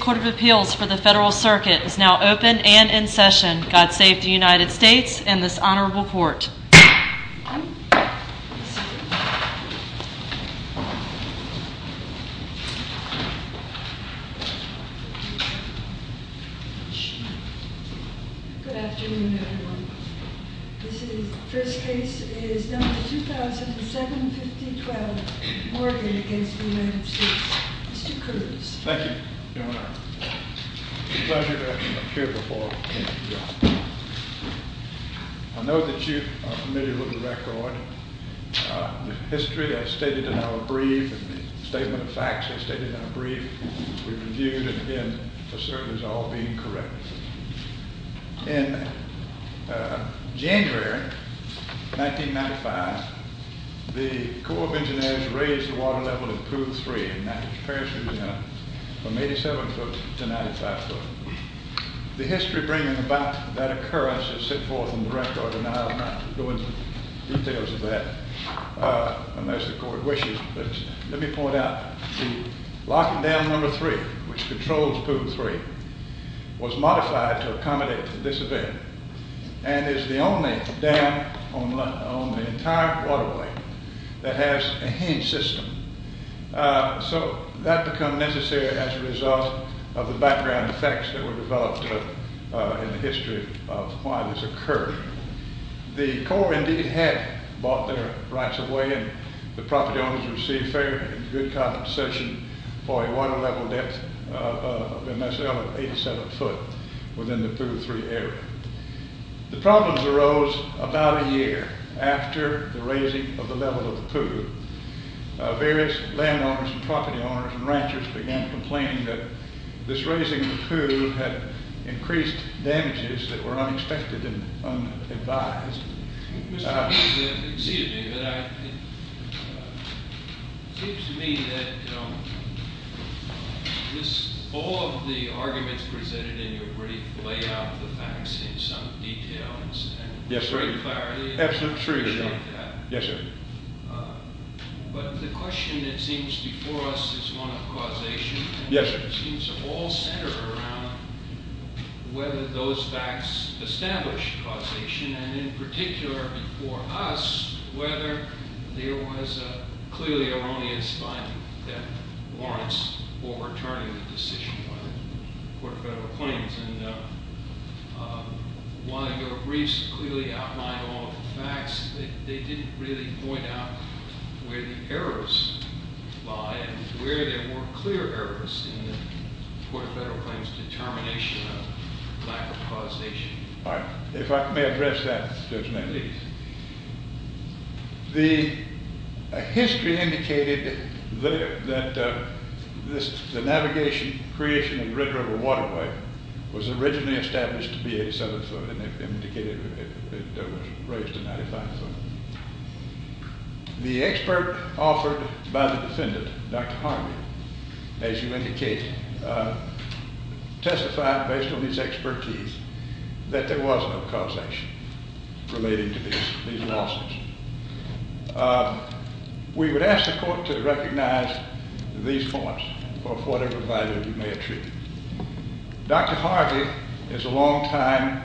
Court of Appeals for the Federal Circuit is now open and in session. God save the United States Court of Appeals for the Federal Circuit is now open and in session. In January 1995, the Corps of Engineers raised the water level in Poole 3 in Paris, Louisiana from 87 foot to 95 foot. The history bringing about that occurrence is set forth in the record and I'll not go into details of that unless the court wishes. But let me point out the locking dam number 3 which controls Poole 3 was modified to accommodate this event and is the only dam on the entire waterway that has a hinge system. So that become necessary as a result of the background effects that were developed in the history of why this occurred. The Corps indeed had bought their rights away and the property owners received fair and good compensation for a water level depth of MSL of 87 foot within the Poole 3 area. The problem arose about a year after the raising of the level of the Poole. Various land owners and property owners and ranchers began complaining that this raising of the Poole had increased damages that were unexpected and unadvised. Excuse me, but it seems to me that all of the arguments presented in your brief lay out the facts in some detail and with great clarity. Yes, sir. But the question that seems before us is one of causation. Yes, sir. It seems all centered around whether those facts establish causation and in particular before us whether there was a clearly erroneous finding that warrants overturning the decision by the court of federal claims. And one of your briefs clearly outlined all of the facts. They didn't really point out where the errors lie and where there were clear errors in the court of federal claims determination of lack of causation. All right, if I may address that, Judge Manley. The history indicated that the navigation creation of the Red River Waterway was originally established to be 87 foot and indicated it was raised to 95 foot. The expert offered by the defendant, Dr. Harvey, as you indicated, testified based on his expertise that there was no causation relating to these losses. We would ask the court to recognize these points for whatever value you may attribute. Dr. Harvey is a long time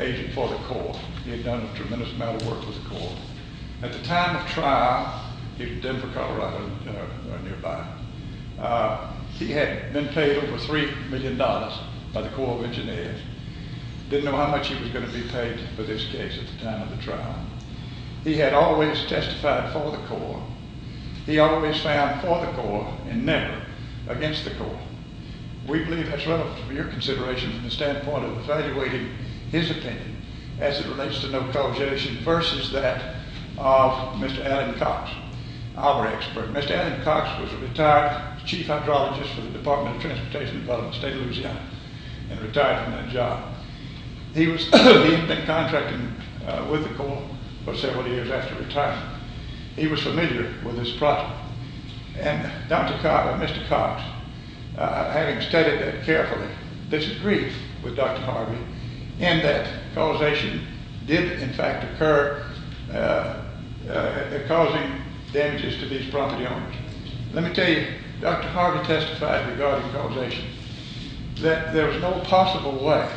agent for the court. He had done a tremendous amount of work for the court. At the time of trial, he was in Denver, Colorado or nearby. He had been paid over $3 million by the Corps of Engineers. Didn't know how much he was going to be paid for this case at the time of the trial. He had always testified for the court. He always found for the court and never against the court. We believe that's relevant for your consideration from the standpoint of evaluating his opinion as it relates to no causation versus that of Mr. Alan Cox, our expert. Mr. Alan Cox was a retired chief hydrologist for the Department of Transportation in the state of Louisiana and retired from that job. He had been contracting with the court for several years after retirement. He was familiar with this process. And Mr. Cox, having studied it carefully, disagreed with Dr. Harvey in that causation did in fact occur causing damages to these property owners. Let me tell you, Dr. Harvey testified regarding causation that there was no possible way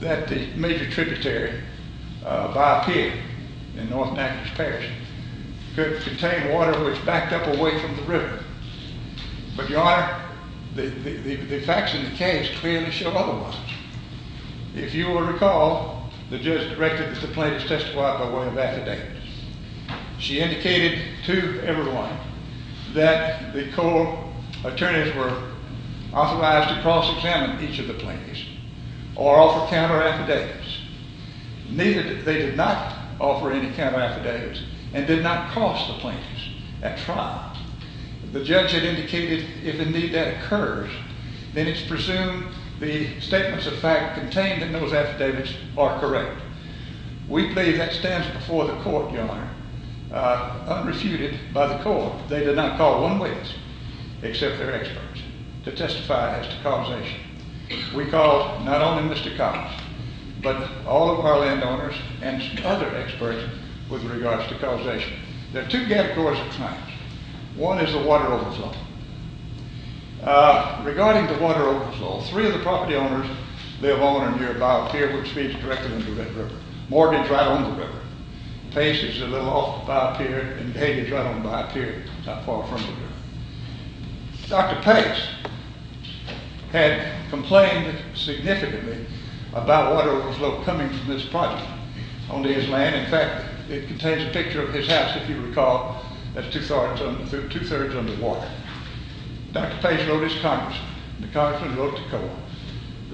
that the major tributary by a pier in North Natchez Parish could contain water which backed up away from the river. But, Your Honor, the facts in the case clearly show otherwise. If you will recall, the judge directed that the plaintiff testify by way of affidavit. She indicated to everyone that the court attorneys were authorized to cross-examine each of the plaintiffs or offer counter-affidavits. Neither did they offer any counter-affidavits and did not cross the plaintiffs at trial. The judge had indicated if indeed that occurs, then it's presumed the statements of fact contained in those affidavits are correct. We believe that stands before the court, Your Honor, unrefuted by the court. They did not call one witness except their experts to testify as to causation. We called not only Mr. Cox, but all of our landowners and other experts with regards to causation. There are two gap cause of crimes. One is the water overflow. Regarding the water overflow, three of the property owners live on or near a bio-pier which feeds directly into that river. Mortgage right on the river. Pace is a little off the bio-pier and Hayden is right on the bio-pier, not far from the river. Dr. Pace had complained significantly about water overflow coming from this project onto his land. In fact, it contains a picture of his house, if you recall. That's two thirds under water. Dr. Pace wrote his congressman. The congressman wrote to Cohen.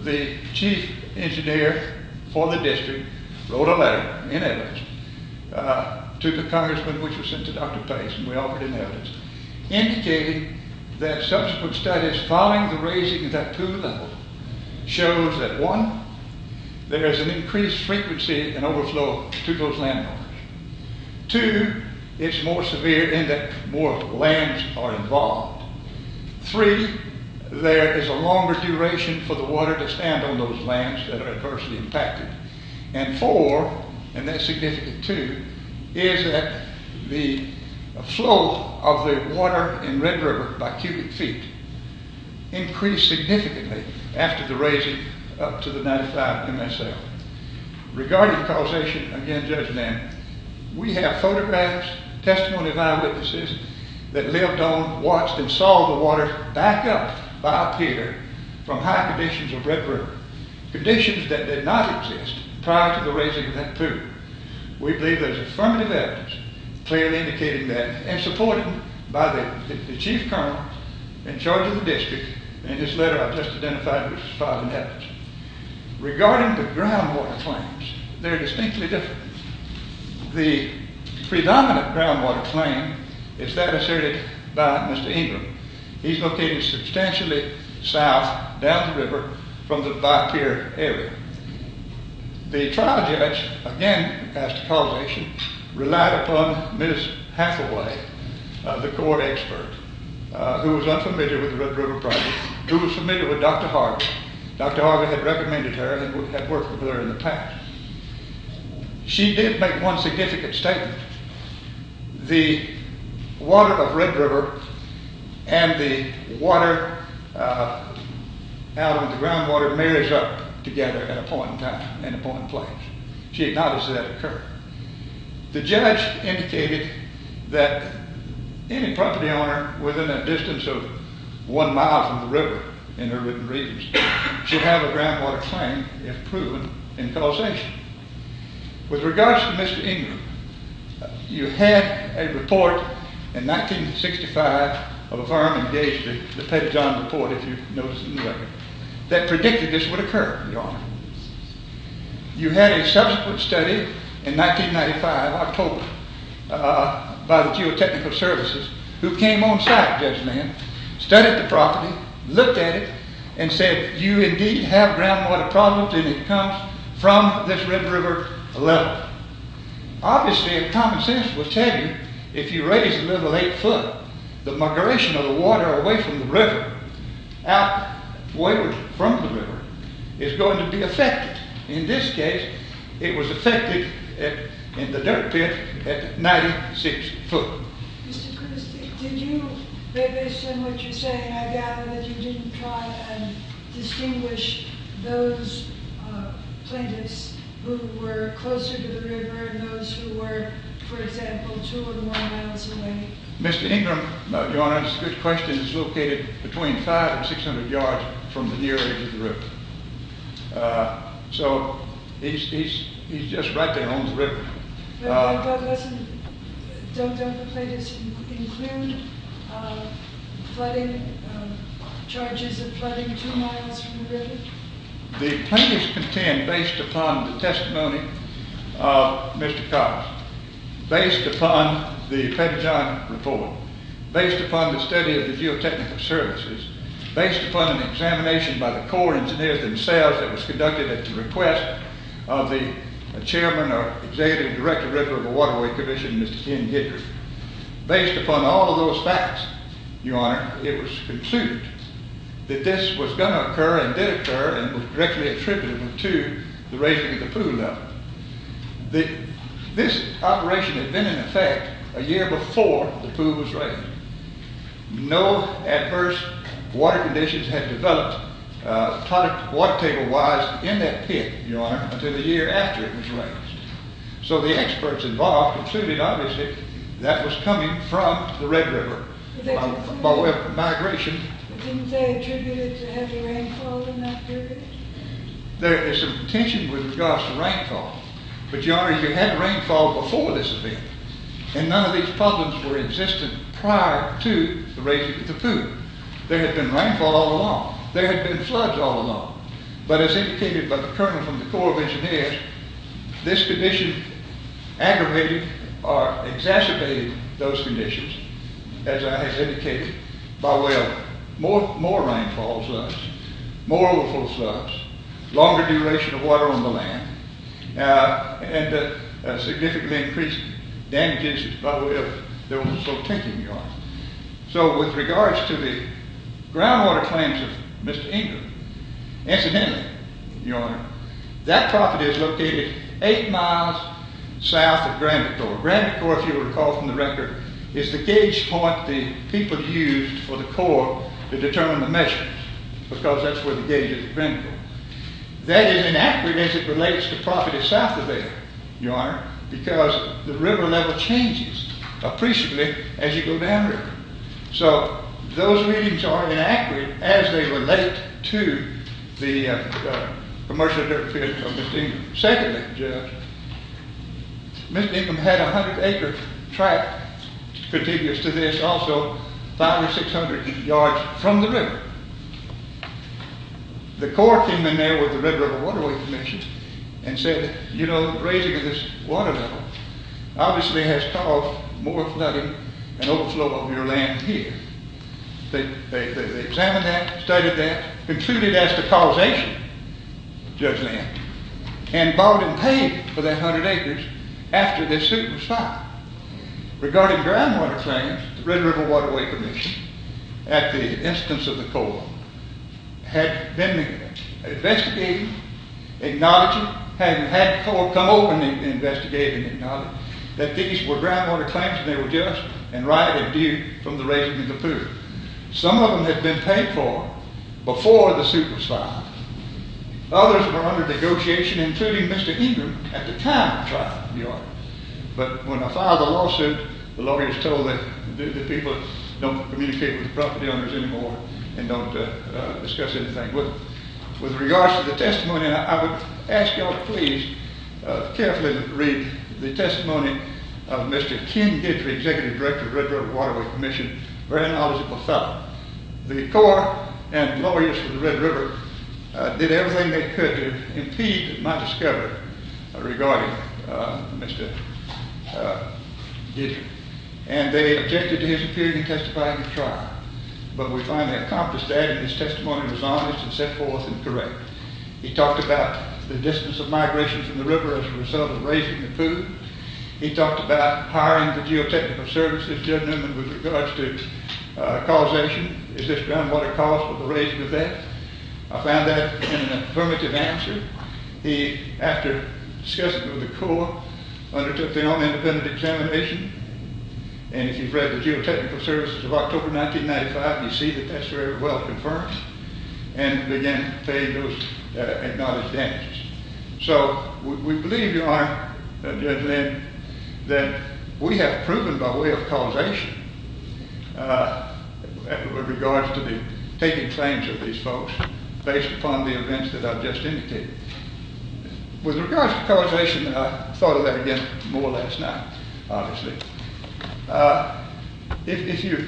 The chief engineer for the district wrote a letter in evidence to the congressman which was sent to Dr. Pace. We offered him evidence. Indicating that subsequent studies following the raising of that pool level shows that one, there is an increased frequency and overflow to those landowners. Two, it's more severe in that more lands are involved. Three, there is a longer duration for the water to stand on those lands that are adversely impacted. And four, and that's significant too, is that the flow of the water in Red River by cubic feet increased significantly after the raising up to the 95 MSL. Regarding causation, again Judge Lamb, we have photographs, testimony of eyewitnesses that lived on, watched and saw the water back up bio-pier from high conditions of Red River. Conditions that did not exist prior to the raising of that pool. We believe there's affirmative evidence clearly indicating that and supported by the chief colonel in charge of the district in this letter I just identified which was filed in evidence. Regarding the groundwater claims, they're distinctly different. The predominant groundwater claim is that asserted by Mr. Ingram. He's located substantially south down the river from the bio-pier area. The trial judge, again as to causation, relied upon Ms. Hathaway, the court expert, who was unfamiliar with the Red River project, who was familiar with Dr. Harger. Dr. Harger had recommended her and had worked with her in the past. She did make one significant statement. The water of Red River and the water out of the groundwater marries up together at a point in time, at a point in place. She acknowledged that occurred. The judge indicated that any property owner within a distance of one mile from the river in her written readings should have a groundwater claim if proven in causation. With regards to Mr. Ingram, you had a report in 1965 of a firm engaged in the Petty John report, if you've noticed in the record, that predicted this would occur, Your Honor. You had a subsequent study in 1995, October, by the geotechnical services, who came on site, Judge Mann, studied the property, looked at it, and said, if you indeed have groundwater problems, then it comes from this Red River level. Obviously, if common sense would tell you, if you raise the level eight foot, the migration of the water away from the river is going to be affected. In this case, it was affected in the dirt pit at 96 foot. Mr. Cruz, based on what you're saying, I gather that you didn't try and distinguish those plaintiffs who were closer to the river and those who were, for example, two or more miles away. Mr. Ingram, Your Honor, it's a good question. He's located between 500 and 600 yards from the near edge of the river. So, he's just right there on the river. But don't the plaintiffs include charges of flooding two miles from the river? The plaintiffs contend, based upon the testimony of Mr. Cox, based upon the Pentagon report, based upon the study of the geotechnical services, based upon an examination by the Corps engineers themselves that was conducted at the request of the Chairman or Executive Director of the Waterway Commission, Mr. Ken Hedrick. Based upon all of those facts, Your Honor, it was concluded that this was going to occur and did occur and was directly attributed to the raising of the pool level. This operation had been in effect a year before the pool was raised. No adverse water conditions had developed, water table-wise, in that pit, Your Honor, until the year after it was raised. So, the experts involved concluded, obviously, that was coming from the Red River migration. Didn't they attribute it to heavy rainfall in that period? There is some contention with regards to rainfall, but Your Honor, you had rainfall before this event and none of these problems were existent prior to the raising of the pool. There had been rainfall all along. There had been floods all along, but as indicated by the Colonel from the Corps of Engineers, this condition aggravated or exacerbated those conditions, as I have indicated, by way of more rainfall floods, more overflow floods, longer duration of water on the land, and a significantly increased damage as a result of those sort of conditions, Your Honor. So, with regards to the groundwater claims of Mr. Ingram, incidentally, Your Honor, that property is located eight miles south of Granby Corps. Granby Corps, if you recall from the record, is the gauge point the people used for the Corps to determine the measurements because that's where the gauge is at Granby Corps. That is inaccurate as it relates to property south of there, Your Honor, because the river level changes appreciably as you go downriver. So, those readings are inaccurate as they relate to the commercial dirt pit of Mr. Ingram. Secondly, Judge, Mr. Ingram had a 100-acre track contiguous to this also 5 or 600 yards from the river. The Corps came in there with the Red River Waterway Commission and said, you know, raising this water level obviously has caused more flooding and overflow of your land here. They examined that, studied that, concluded as to causation, Judge Lambert, and bought and paid for that 100 acres after their suit was signed. Regarding groundwater claims, the Red River Waterway Commission, at the instance of the Corps, had been investigating, acknowledging, had the Corps come over and investigate and acknowledge that these were groundwater claims and they were just and rightly due from the raising of the poo. Some of them had been paid for before the suit was signed. Others were under negotiation, including Mr. Ingram at the time of the trial, Your Honor. But when I filed the lawsuit, the lawyers told me that people don't communicate with the property owners anymore and don't discuss anything with them. With regards to the testimony, I would ask you all to please carefully read the testimony of Mr. Ken Gidry, Executive Director of the Red River Waterway Commission, a very knowledgeable fellow. The Corps and lawyers for the Red River did everything they could to impede my discovery regarding Mr. Gidry. And they objected to his appearing and testifying in the trial. But we finally accomplished that and his testimony was honest and set forth and correct. He talked about the distance of migration from the river as a result of raising the poo. He talked about hiring the geotechnical services, gentlemen, with regards to causation. Is this groundwater cause for the raising of that? I found that an affirmative answer. He, after discussing with the Corps, undertook their own independent examination. And if you've read the geotechnical services of October 1995, you see that that's very well confirmed and, again, those acknowledged damages. So we believe, Your Honor, Judge Lynn, that we have proven by way of causation with regards to the taking claims of these folks based upon the events that I've just indicated. With regards to causation, I thought of that again more or less now, obviously. If you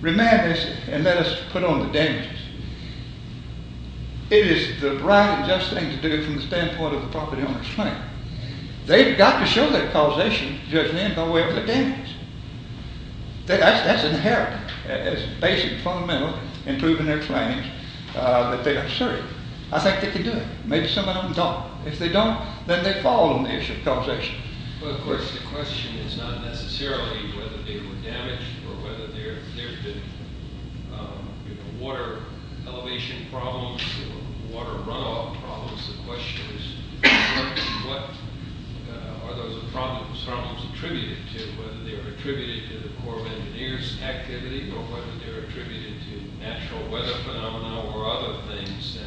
remand this and let us put on the damages, it is the right and just thing to do from the standpoint of the property owner's claim. They've got to show their causation, Judge Lynn, by way of the damages. That's inherited. It's basic, fundamental in proving their claims that they are certain. I think they can do it. Maybe some of them don't. If they don't, then they fall on the issue of causation. Well, of course, the question is not necessarily whether they were damaged or whether there's been water elevation problems or water runoff problems. The question is what are those problems attributed to, whether they're attributed to the Corps of Engineers' activity or whether they're attributed to natural weather phenomena or other things.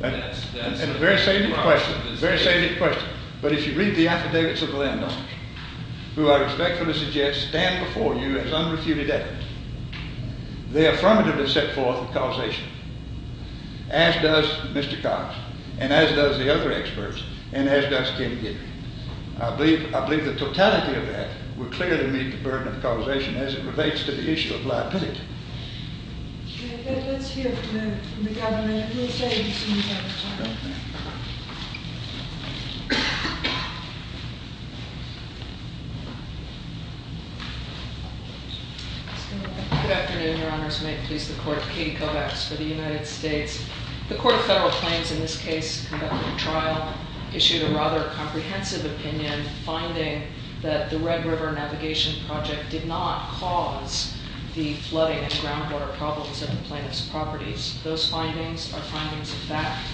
That's a very salient question. But if you read the affidavits of the landowners, who I respectfully suggest stand before you as unrefuted evidence, they affirmatively set forth causation, as does Mr. Cox, and as does the other experts, and as does Ken Giddy. I believe the totality of that would clearly meet the burden of causation as it relates to the issue of liability. Let's hear from the Governor and we'll tell you as soon as we have time. Good afternoon, Your Honors. May it please the Court. Katie Kovacs for the United States. The Court of Federal Claims, in this case, conducted a trial, issued a rather comprehensive opinion, finding that the Red River Navigation Project did not cause the flooding and groundwater problems at the plaintiff's properties. Those findings are findings of fact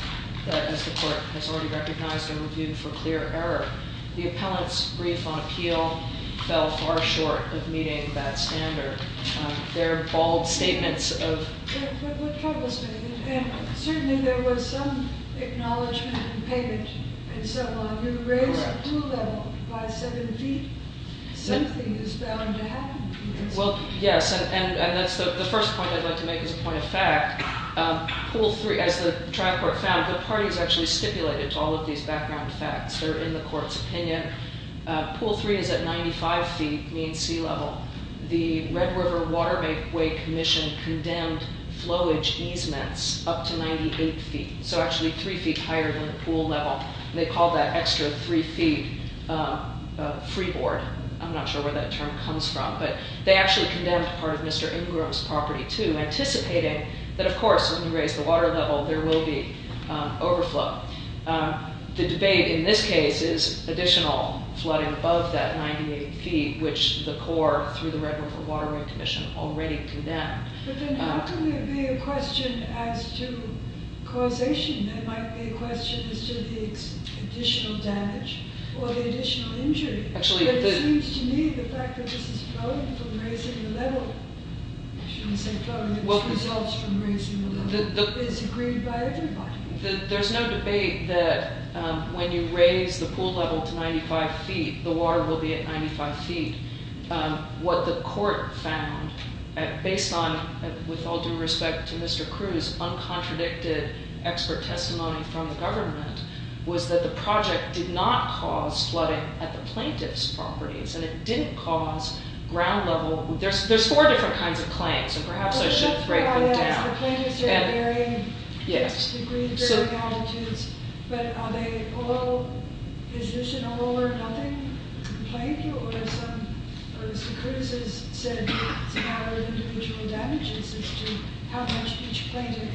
that, as the Court has already recognized and reviewed for clear error. The appellant's brief on appeal fell far short of meeting that standard. There are bold statements of… What troubles me, and certainly there was some acknowledgement and payment and so on. You raise the pool level by seven feet. Something is bound to happen. Well, yes, and that's the first point I'd like to make as a point of fact. Pool three, as the trial court found, the parties actually stipulated to all of these background facts. They're in the court's opinion. Pool three is at 95 feet, mean sea level. The Red River Waterway Commission condemned flowage easements up to 98 feet, so actually three feet higher than the pool level. They called that extra three feet freeboard. I'm not sure where that term comes from, but they actually condemned part of Mr. Ingram's property, too, anticipating that, of course, when you raise the water level, there will be overflow. The debate in this case is additional flooding above that 98 feet, which the court, through the Red River Waterway Commission, already condemned. But then how can there be a question as to causation? There might be a question as to the additional damage or the additional injury. But it seems to me the fact that this is flooding from raising the level, I shouldn't say flooding, this results from raising the level, is agreed by everybody. There's no debate that when you raise the pool level to 95 feet, the water will be at 95 feet. What the court found, based on, with all due respect to Mr. Cruz, uncontradicted expert testimony from the government, was that the project did not cause flooding at the plaintiff's properties, and it didn't cause ground level... There's four different kinds of claims, and perhaps I should break them down. The plaintiffs are in varying degrees, varying altitudes, but are they all positional or nothing? Or as Mr. Cruz has said, it's a matter of individual damages as to how much each plaintiff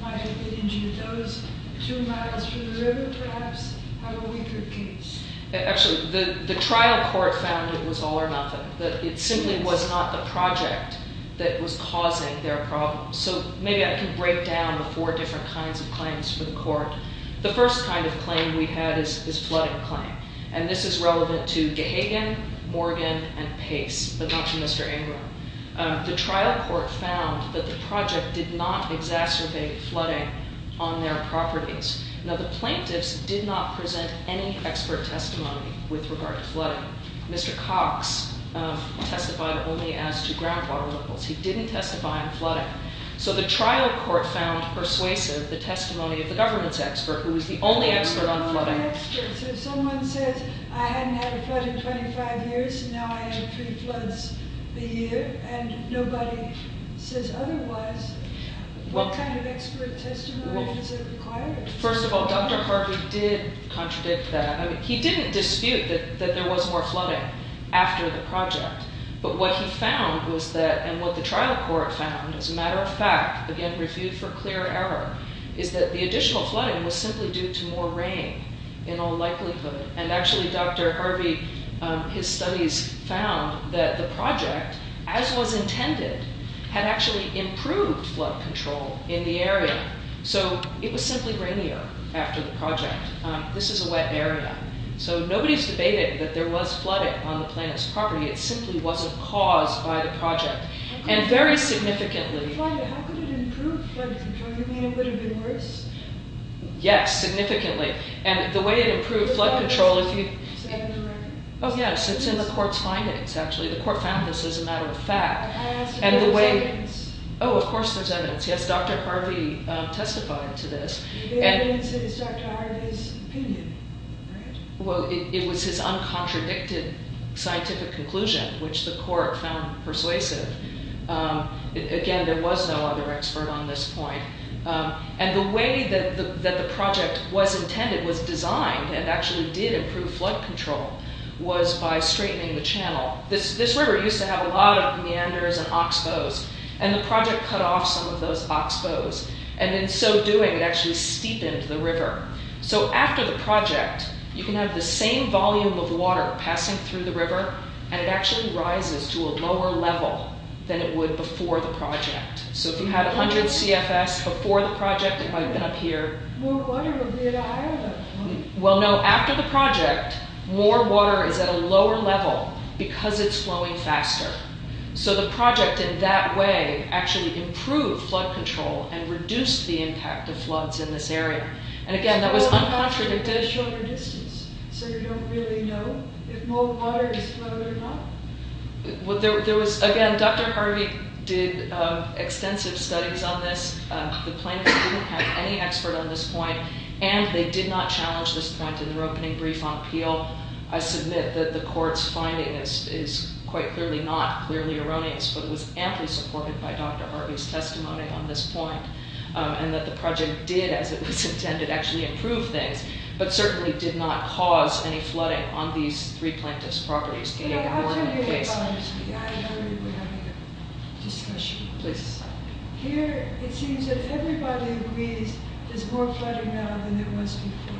might have been injured. Those two miles from the river perhaps have a weaker case. Actually, the trial court found it was all or nothing, that it simply was not the project that was causing their problem. So maybe I can break down the four different kinds of claims for the court. The first kind of claim we had is flooding claim. And this is relevant to Gahagan, Morgan, and Pace, but not to Mr. Ingram. The trial court found that the project did not exacerbate flooding on their properties. Now, the plaintiffs did not present any expert testimony with regard to flooding. Mr. Cox testified only as to groundwater levels. He didn't testify on flooding. So the trial court found persuasive the testimony of the government's expert, who was the only expert on flooding. What kind of experts? If someone says, I hadn't had a flood in 25 years, and now I have three floods a year, and nobody says otherwise, what kind of expert testimony is it required? First of all, Dr. Harvey did contradict that. He didn't dispute that there was more flooding after the project. But what he found was that, and what the trial court found, as a matter of fact, again, reviewed for clear error, is that the additional flooding was simply due to more rain, in all likelihood. And actually, Dr. Harvey, his studies found that the project, as was intended, had actually improved flood control in the area. So it was simply rainier after the project. This is a wet area. So nobody's debating that there was flooding on the plaintiff's property. It simply wasn't caused by the project. And very significantly... How could it improve flood control? You mean it would have been worse? Yes, significantly. And the way it improved flood control... Is that in the record? Oh, yes, it's in the court's findings, actually. The court found this as a matter of fact. Can I ask if there's evidence? Oh, of course there's evidence. Yes, Dr. Harvey testified to this. The evidence is Dr. Harvey's opinion, right? Well, it was his uncontradicted scientific conclusion, which the court found persuasive. Again, there was no other expert on this point. And the way that the project was intended, was designed, and actually did improve flood control, was by straightening the channel. This river used to have a lot of meanders and oxbows. And the project cut off some of those oxbows. And in so doing, it actually steepened the river. So after the project, you can have the same volume of water passing through the river, and it actually rises to a lower level than it would before the project. So if you had 100 CFS before the project, it might have been up here. More water would be at a higher level. Well, no, after the project, more water is at a lower level because it's flowing faster. So the project, in that way, actually improved flood control and reduced the impact of floods in this area. And again, that was uncontradicted. So you don't really know? You don't know if more water is flowing or not? Well, there was, again, Dr. Harvey did extensive studies on this. The plaintiffs didn't have any expert on this point. And they did not challenge this point in their opening brief on appeal. I submit that the court's finding is quite clearly not clearly erroneous, but it was amply supported by Dr. Harvey's testimony on this point, and that the project did, as it was intended, actually improve things, but certainly did not cause any flooding on these three plaintiffs' properties. Can you go more into the case? I'll tell you about it. We're having a discussion. Here, it seems that everybody agrees there's more flooding now than there was before.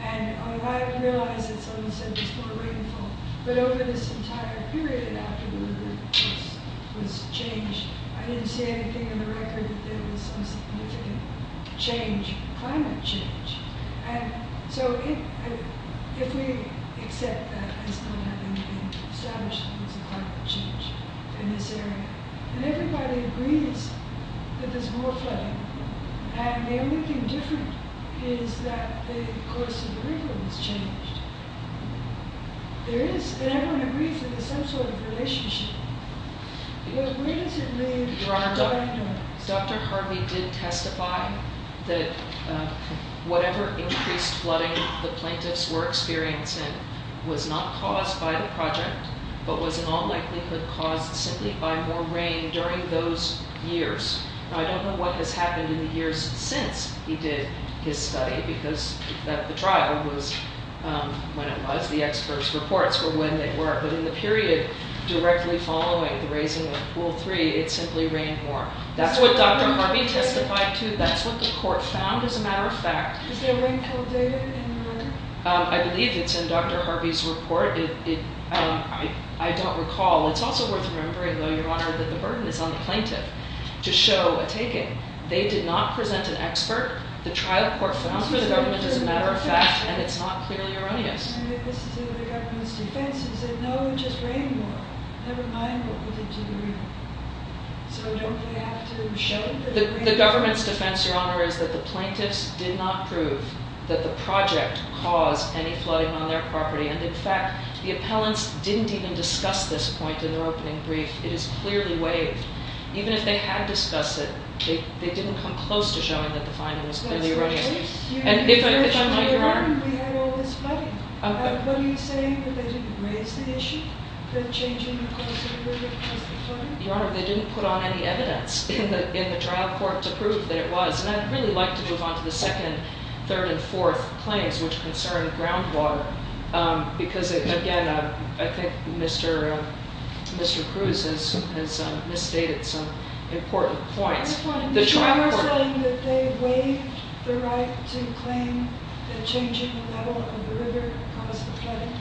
And I realize that someone said there's more rainfall, but over this entire period, after the river was changed, I didn't see anything in the record that there was some significant change, climate change. And so if we accept that as not having been established, there was a climate change in this area. And everybody agrees that there's more flooding. And the only thing different is that the course of the river was changed. There is, and everyone agrees that there's some sort of relationship. Because where does it leave... Your Honor, Dr. Harvey did testify that whatever increased flooding the plaintiffs were experiencing was not caused by the project, but was in all likelihood caused simply by more rain during those years. I don't know what has happened in the years since he did his study, because the trial was, when it was, the experts' reports were when they were. But in the period directly following the raising of Pool 3, it simply rained more. That's what Dr. Harvey testified to. That's what the court found, as a matter of fact. Is there rain-kill data in the record? I believe it's in Dr. Harvey's report. I don't recall. It's also worth remembering, though, Your Honor, that the burden is on the plaintiff to show a taking. They did not present an expert. The trial court found for the government as a matter of fact, and it's not clearly erroneous. This is in the government's defense. It said, no, it just rained more. Never mind what was in June. So don't they have to show it? The government's defense, Your Honor, is that the plaintiffs did not prove that the project caused any flooding on their property. And, in fact, the appellants didn't even discuss this point in their opening brief. It is clearly waived. Even if they had discussed it, they didn't come close to showing that the finding was clearly erroneous. That's the case. In June, we had all this flooding. What are you saying? That they didn't raise the issue for the change in the level of the river that caused the flooding? Your Honor, they didn't put on any evidence in the trial court to prove that it was. And I'd really like to move on to the second, third, and fourth claims, which concern groundwater. Because, again, I think Mr. Cruz has misstated some important points. The trial court... Are you saying that they waived the right to claim the change in the level of the river that caused the flooding?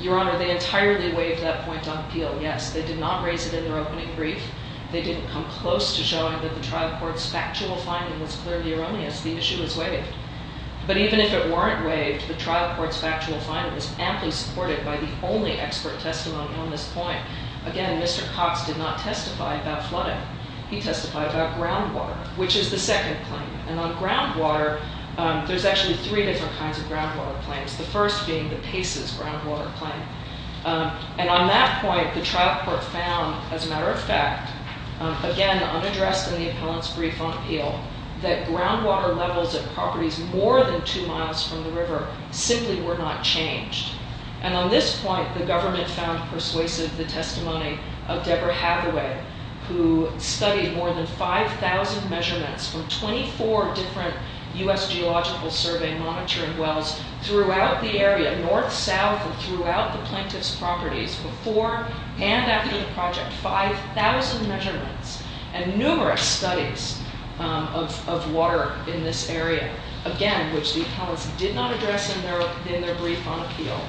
Your Honor, they entirely waived that point on appeal. Yes, they did not raise it in their opening brief. They didn't come close to showing that the trial court's factual finding was clearly erroneous. The issue was waived. But even if it weren't waived, the trial court's factual finding was amply supported by the only expert testimony on this point. Again, Mr. Cox did not testify about flooding. He testified about groundwater, which is the second claim. And on groundwater, there's actually three different kinds of groundwater claims. The first being the Paces groundwater claim. And on that point, the trial court found, as a matter of fact, again, unaddressed in the appellant's brief on appeal, that groundwater levels at properties more than two miles from the river simply were not changed. And on this point, the government found persuasive the testimony of Deborah Hathaway, who studied more than 5,000 measurements from 24 different U.S. Geological Survey monitoring wells throughout the area, north, south, and throughout the plaintiff's properties, before and after the project, 5,000 measurements and numerous studies of water in this area, again, which the appellants did not address in their brief on appeal,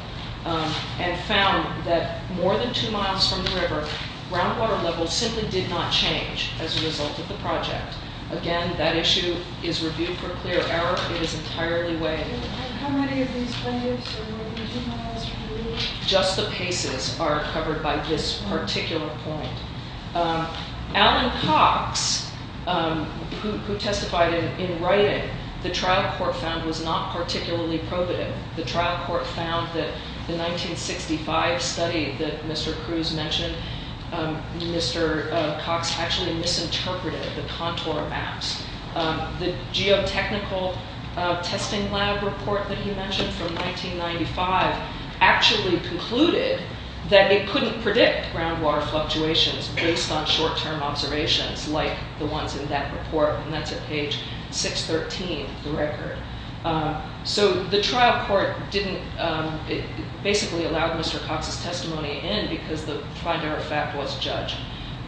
and found that more than two miles from the river, groundwater levels simply did not change as a result of the project. Again, that issue is reviewed for clear error. It is entirely weighed. How many of these plaintiffs are more than two miles from the river? Just the paces are covered by this particular point. Alan Cox, who testified in writing, the trial court found was not particularly probative. The trial court found that the 1965 study that Mr. Cruz mentioned, Mr. Cox actually misinterpreted the contour maps. The geotechnical testing lab report that he mentioned from 1995 actually concluded that it couldn't predict groundwater fluctuations based on short-term observations like the ones in that report, and that's at page 613 of the record. The trial court basically allowed Mr. Cox's testimony in because the final fact was judged,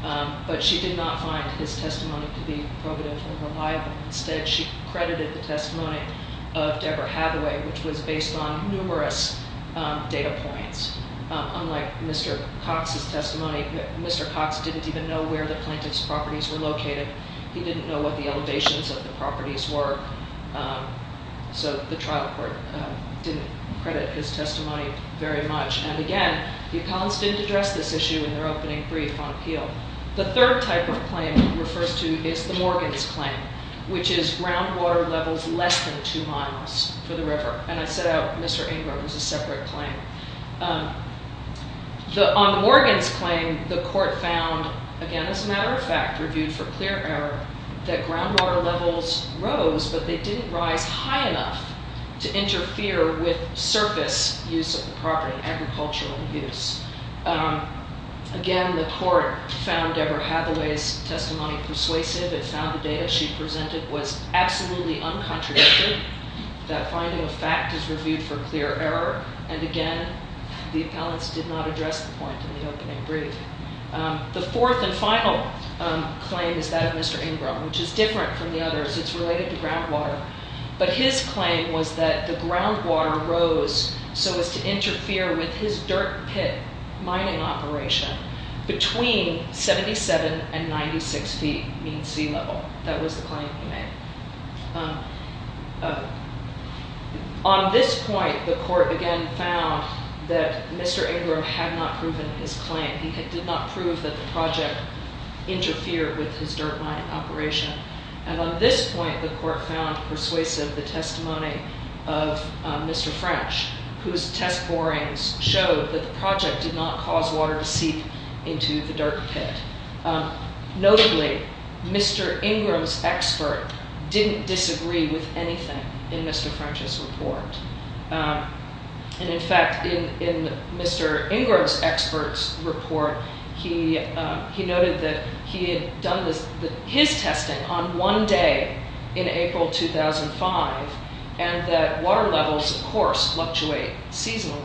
but she did not find his testimony to be probative or reliable. Instead, she credited the testimony of Deborah Hathaway, which was based on numerous data points. Unlike Mr. Cox's testimony, Mr. Cox didn't even know where the plaintiff's properties were located. He didn't know what the elevations of the properties were, so the trial court didn't credit his testimony very much, and again, the Collins didn't address this issue in their opening brief on appeal. The third type of claim he refers to is the Morgans claim, which is groundwater levels less than two miles for the river, and I set out Mr. Engler was a separate claim. On the Morgans claim, the court found, again, as a matter of fact, reviewed for clear error, that groundwater levels rose, but they didn't rise high enough to interfere with surface use of the property, agricultural use. Again, the court found Deborah Hathaway's testimony persuasive. It found the data she presented was absolutely uncontradicted. That finding of fact is reviewed for clear error, and again, the appellants did not address the point in the opening brief. The fourth and final claim is that of Mr. Ingram, which is different from the others. It's related to groundwater, but his claim was that the groundwater rose so as to interfere with his dirt pit mining operation between 77 and 96 feet mean sea level. That was the claim he made. On this point, the court, again, found that Mr. Ingram had not proven his claim. He did not prove that the project interfered with his dirt mine operation, and on this point, the court found persuasive the testimony of Mr. French, whose test borings showed that the project did not cause water to seep into the dirt pit. Notably, Mr. Ingram's expert didn't disagree with anything in Mr. French's report. In fact, in Mr. Ingram's expert's report, he noted that he had done his testing on one day in April 2005, and that water levels, of course, fluctuate seasonally.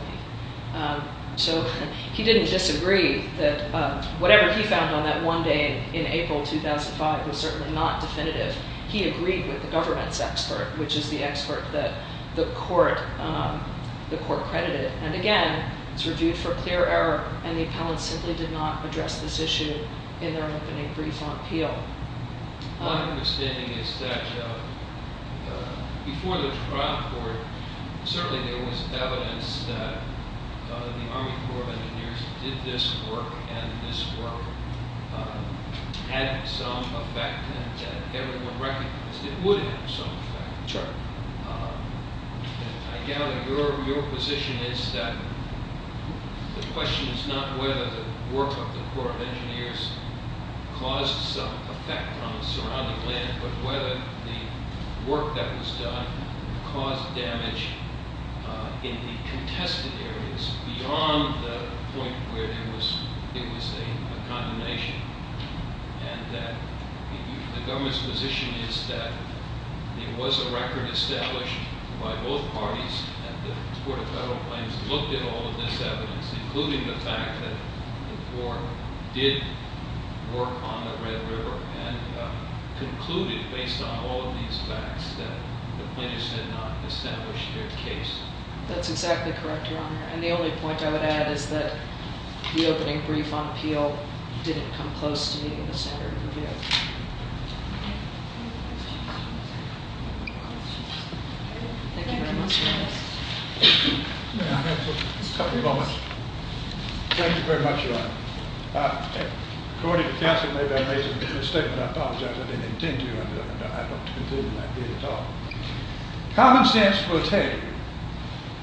So, he didn't disagree that whatever he found on that one day in April 2005 was certainly not definitive. He agreed with the government's expert, which is the expert that the court credited. And again, it's reviewed for clear error, and the appellants simply did not address this issue in their opening brief on appeal. My understanding is that before the trial court, certainly there was evidence that the Army Corps of Engineers did this work, and this work had some effect, and everyone recognized it would have some effect. I gather your position is that the question is not whether the work of the Corps of Engineers caused some effect on the surrounding land, but whether the work that was done caused damage in the contested areas beyond the point where there was a condemnation. And that the government's position is that there was a record established by both parties, and the Court of Federal Claims looked at all of this evidence, including the fact that the Corps did work on the Red River, and concluded based on all of these facts that the plaintiffs did not establish their case. That's exactly correct, Your Honor, and the only point I would add is that the opening brief on appeal didn't come close to meeting the standard of review. Thank you very much, Your Honor. May I have a couple of moments? Thank you very much, Your Honor. According to counsel, maybe I made a mistake, but I apologize. I didn't intend to, but I'd like to conclude in that case at all. Common sense will tell you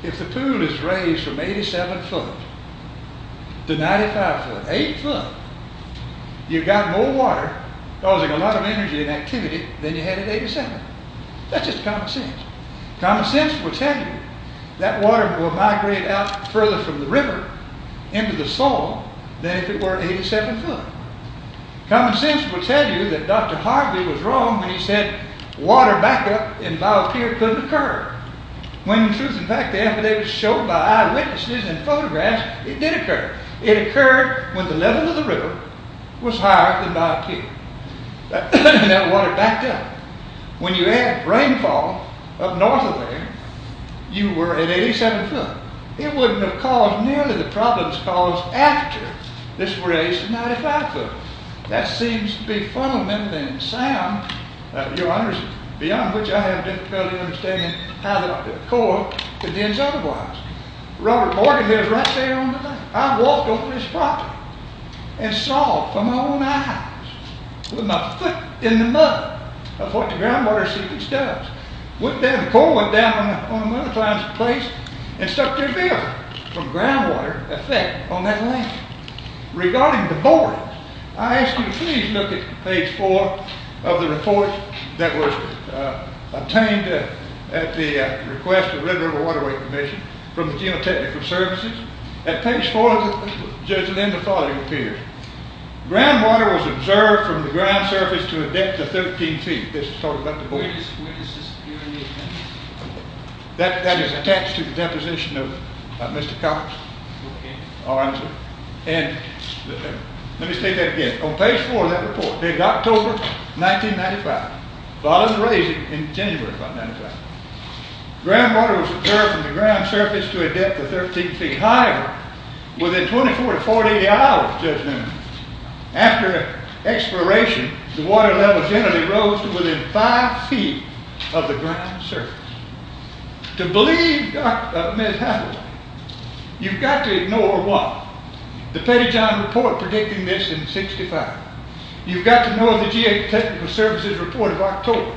if the pool is raised from 87 foot to 95 foot, 8 foot, you've got more water causing a lot of energy and activity than you had at 87. That's just common sense. Common sense will tell you that water will migrate out further from the river into the soil than if it were 87 foot. Common sense will tell you that Dr. Harvey was wrong when he said water back up in Vauquia couldn't occur. When in truth in fact, after they were shown by eyewitnesses and photographs, it did occur. It occurred when the level of the river was higher than Vauquia. That water backed up. When you add rainfall up north of there, you were at 87 foot. It wouldn't have caused nearly the problems caused after this was raised to 95 foot. That seems to be fundamental in the sound of your understanding, beyond which I have difficulty understanding how the coral condense otherwise. Robert Morgan is right there on the left. I walked over this property and saw for my own eyes with my foot in the mud of what the groundwater seepage does. The coral went down on one of the climbs of the place and stuck to a vehicle from groundwater effect on that land. Regarding the borehole, I ask you to please look at page 4 of the report that was obtained at the request of the Red River Waterway Commission from the General Technical Services. At page 4 of the report, the following appears. Groundwater was observed from the ground surface to a depth of 13 feet. This is talking about the borehole. Where does this appear? That is attached to the deposition of Mr. Cox. Let me state that again. On page 4 of that report, in October 1995, following the raising in January 1995, groundwater was observed from the ground surface to a depth of 13 feet. However, within 24 to 48 hours just now, after exploration, the water level generally rose to within 5 feet of the ground surface. To believe Dr. Mez-Hathaway, you've got to ignore what? The Pettyjohn report predicting this in 1965. You've got to know the GA Technical Services report of October.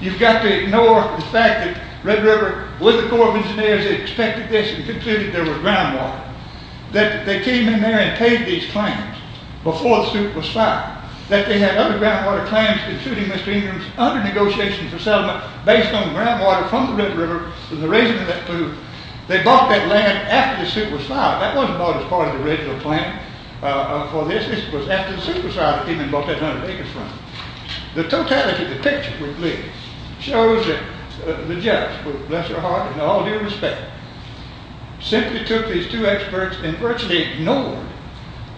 You've got to ignore the fact that Red River with the Corps of Engineers expected this and concluded there was groundwater. That they came in there and paid these claims before the suit was filed. That they had other groundwater claims including Mr. Ingram's under-negotiation for settlement based on groundwater from the Red River. They bought that land after the suit was filed. That wasn't bought as part of the original plan for this. This was after the suit was filed. The totality of the picture shows that the judge, bless her heart and all due respect, simply took these two experts and virtually ignored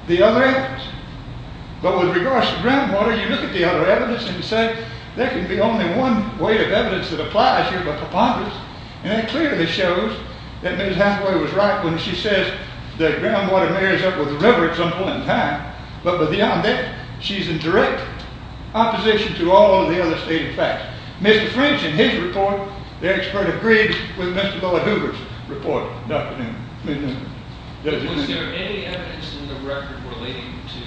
the other evidence. But with regards to groundwater, you look at the other evidence and you say, there can be only one weight of evidence that applies here but preponderance. And that clearly shows that Mez-Hathaway was right when she says that groundwater marries up with the river example in time. But beyond that, she's in direct opposition to all of the other stating facts. Mr. French and his report, their expert agreed with Mr. Miller-Hoover's report. Was there any evidence in the record relating to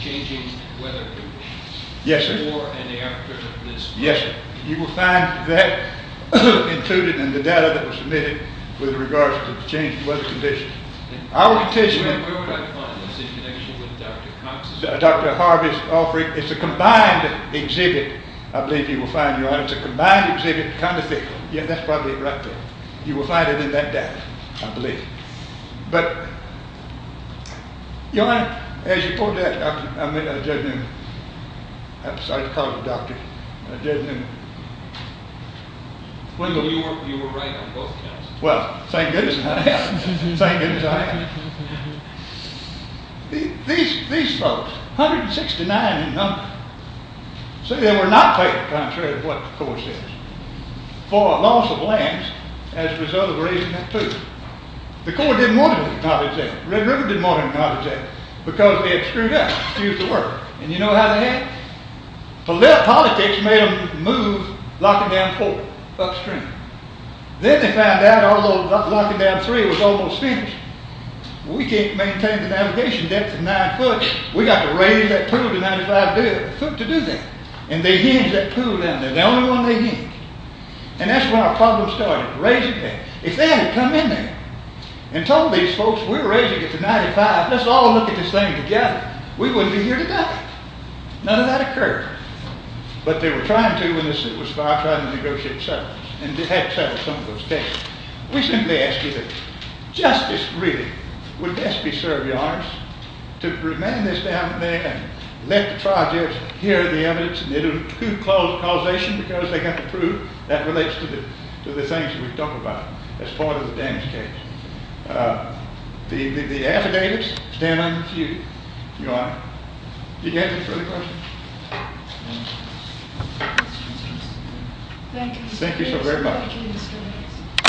changing weather conditions? Yes sir. You will find that included in the data that was submitted with regards to the change in weather conditions. Where would I find this? In connection with Dr. Cox's report? Dr. Harvey's offering. It's a combined exhibit. I believe you will find it. It's a combined exhibit kind of thing. Yeah, that's probably it right there. You will find it in that data, I believe. But, Your Honor, as you pointed out, I met a dead human. I'm sorry to call you a doctor. A dead human. You were right on both counts. Well, thank goodness I am. Thank goodness I am. These folks, 169 in number, say they were not taken contrary to what the court says. For a loss of lands as a result of raising that pool. The court didn't want to acknowledge that. Red River didn't want to acknowledge that. Because they had screwed up. And you know how they had? Politics made them move Locking Down 4 upstream. Then they found out, although Locking Down 3 was almost finished, we can't maintain the navigation depth of 9 foot. We've got to raise that pool to 95 foot to do that. And they hinged that pool down there. The only one they hinged. And that's when our problem started. Raising depth. If they hadn't come in there and told these folks, we're raising it to 95, let's all look at this thing together, we wouldn't be here today. None of that occurred. But they were trying to when the suit was filed, trying to negotiate settlements. And they had settled some of those cases. We simply asked you that justice really would best be served, Your Honor. To remand this down there and let the trial judge hear the evidence and do a true causation because they have the proof that relates to the things that we've talked about as part of the damage case. The affidavits stand unconfused, Your Honor. Do you have any further questions? Thank you so very much.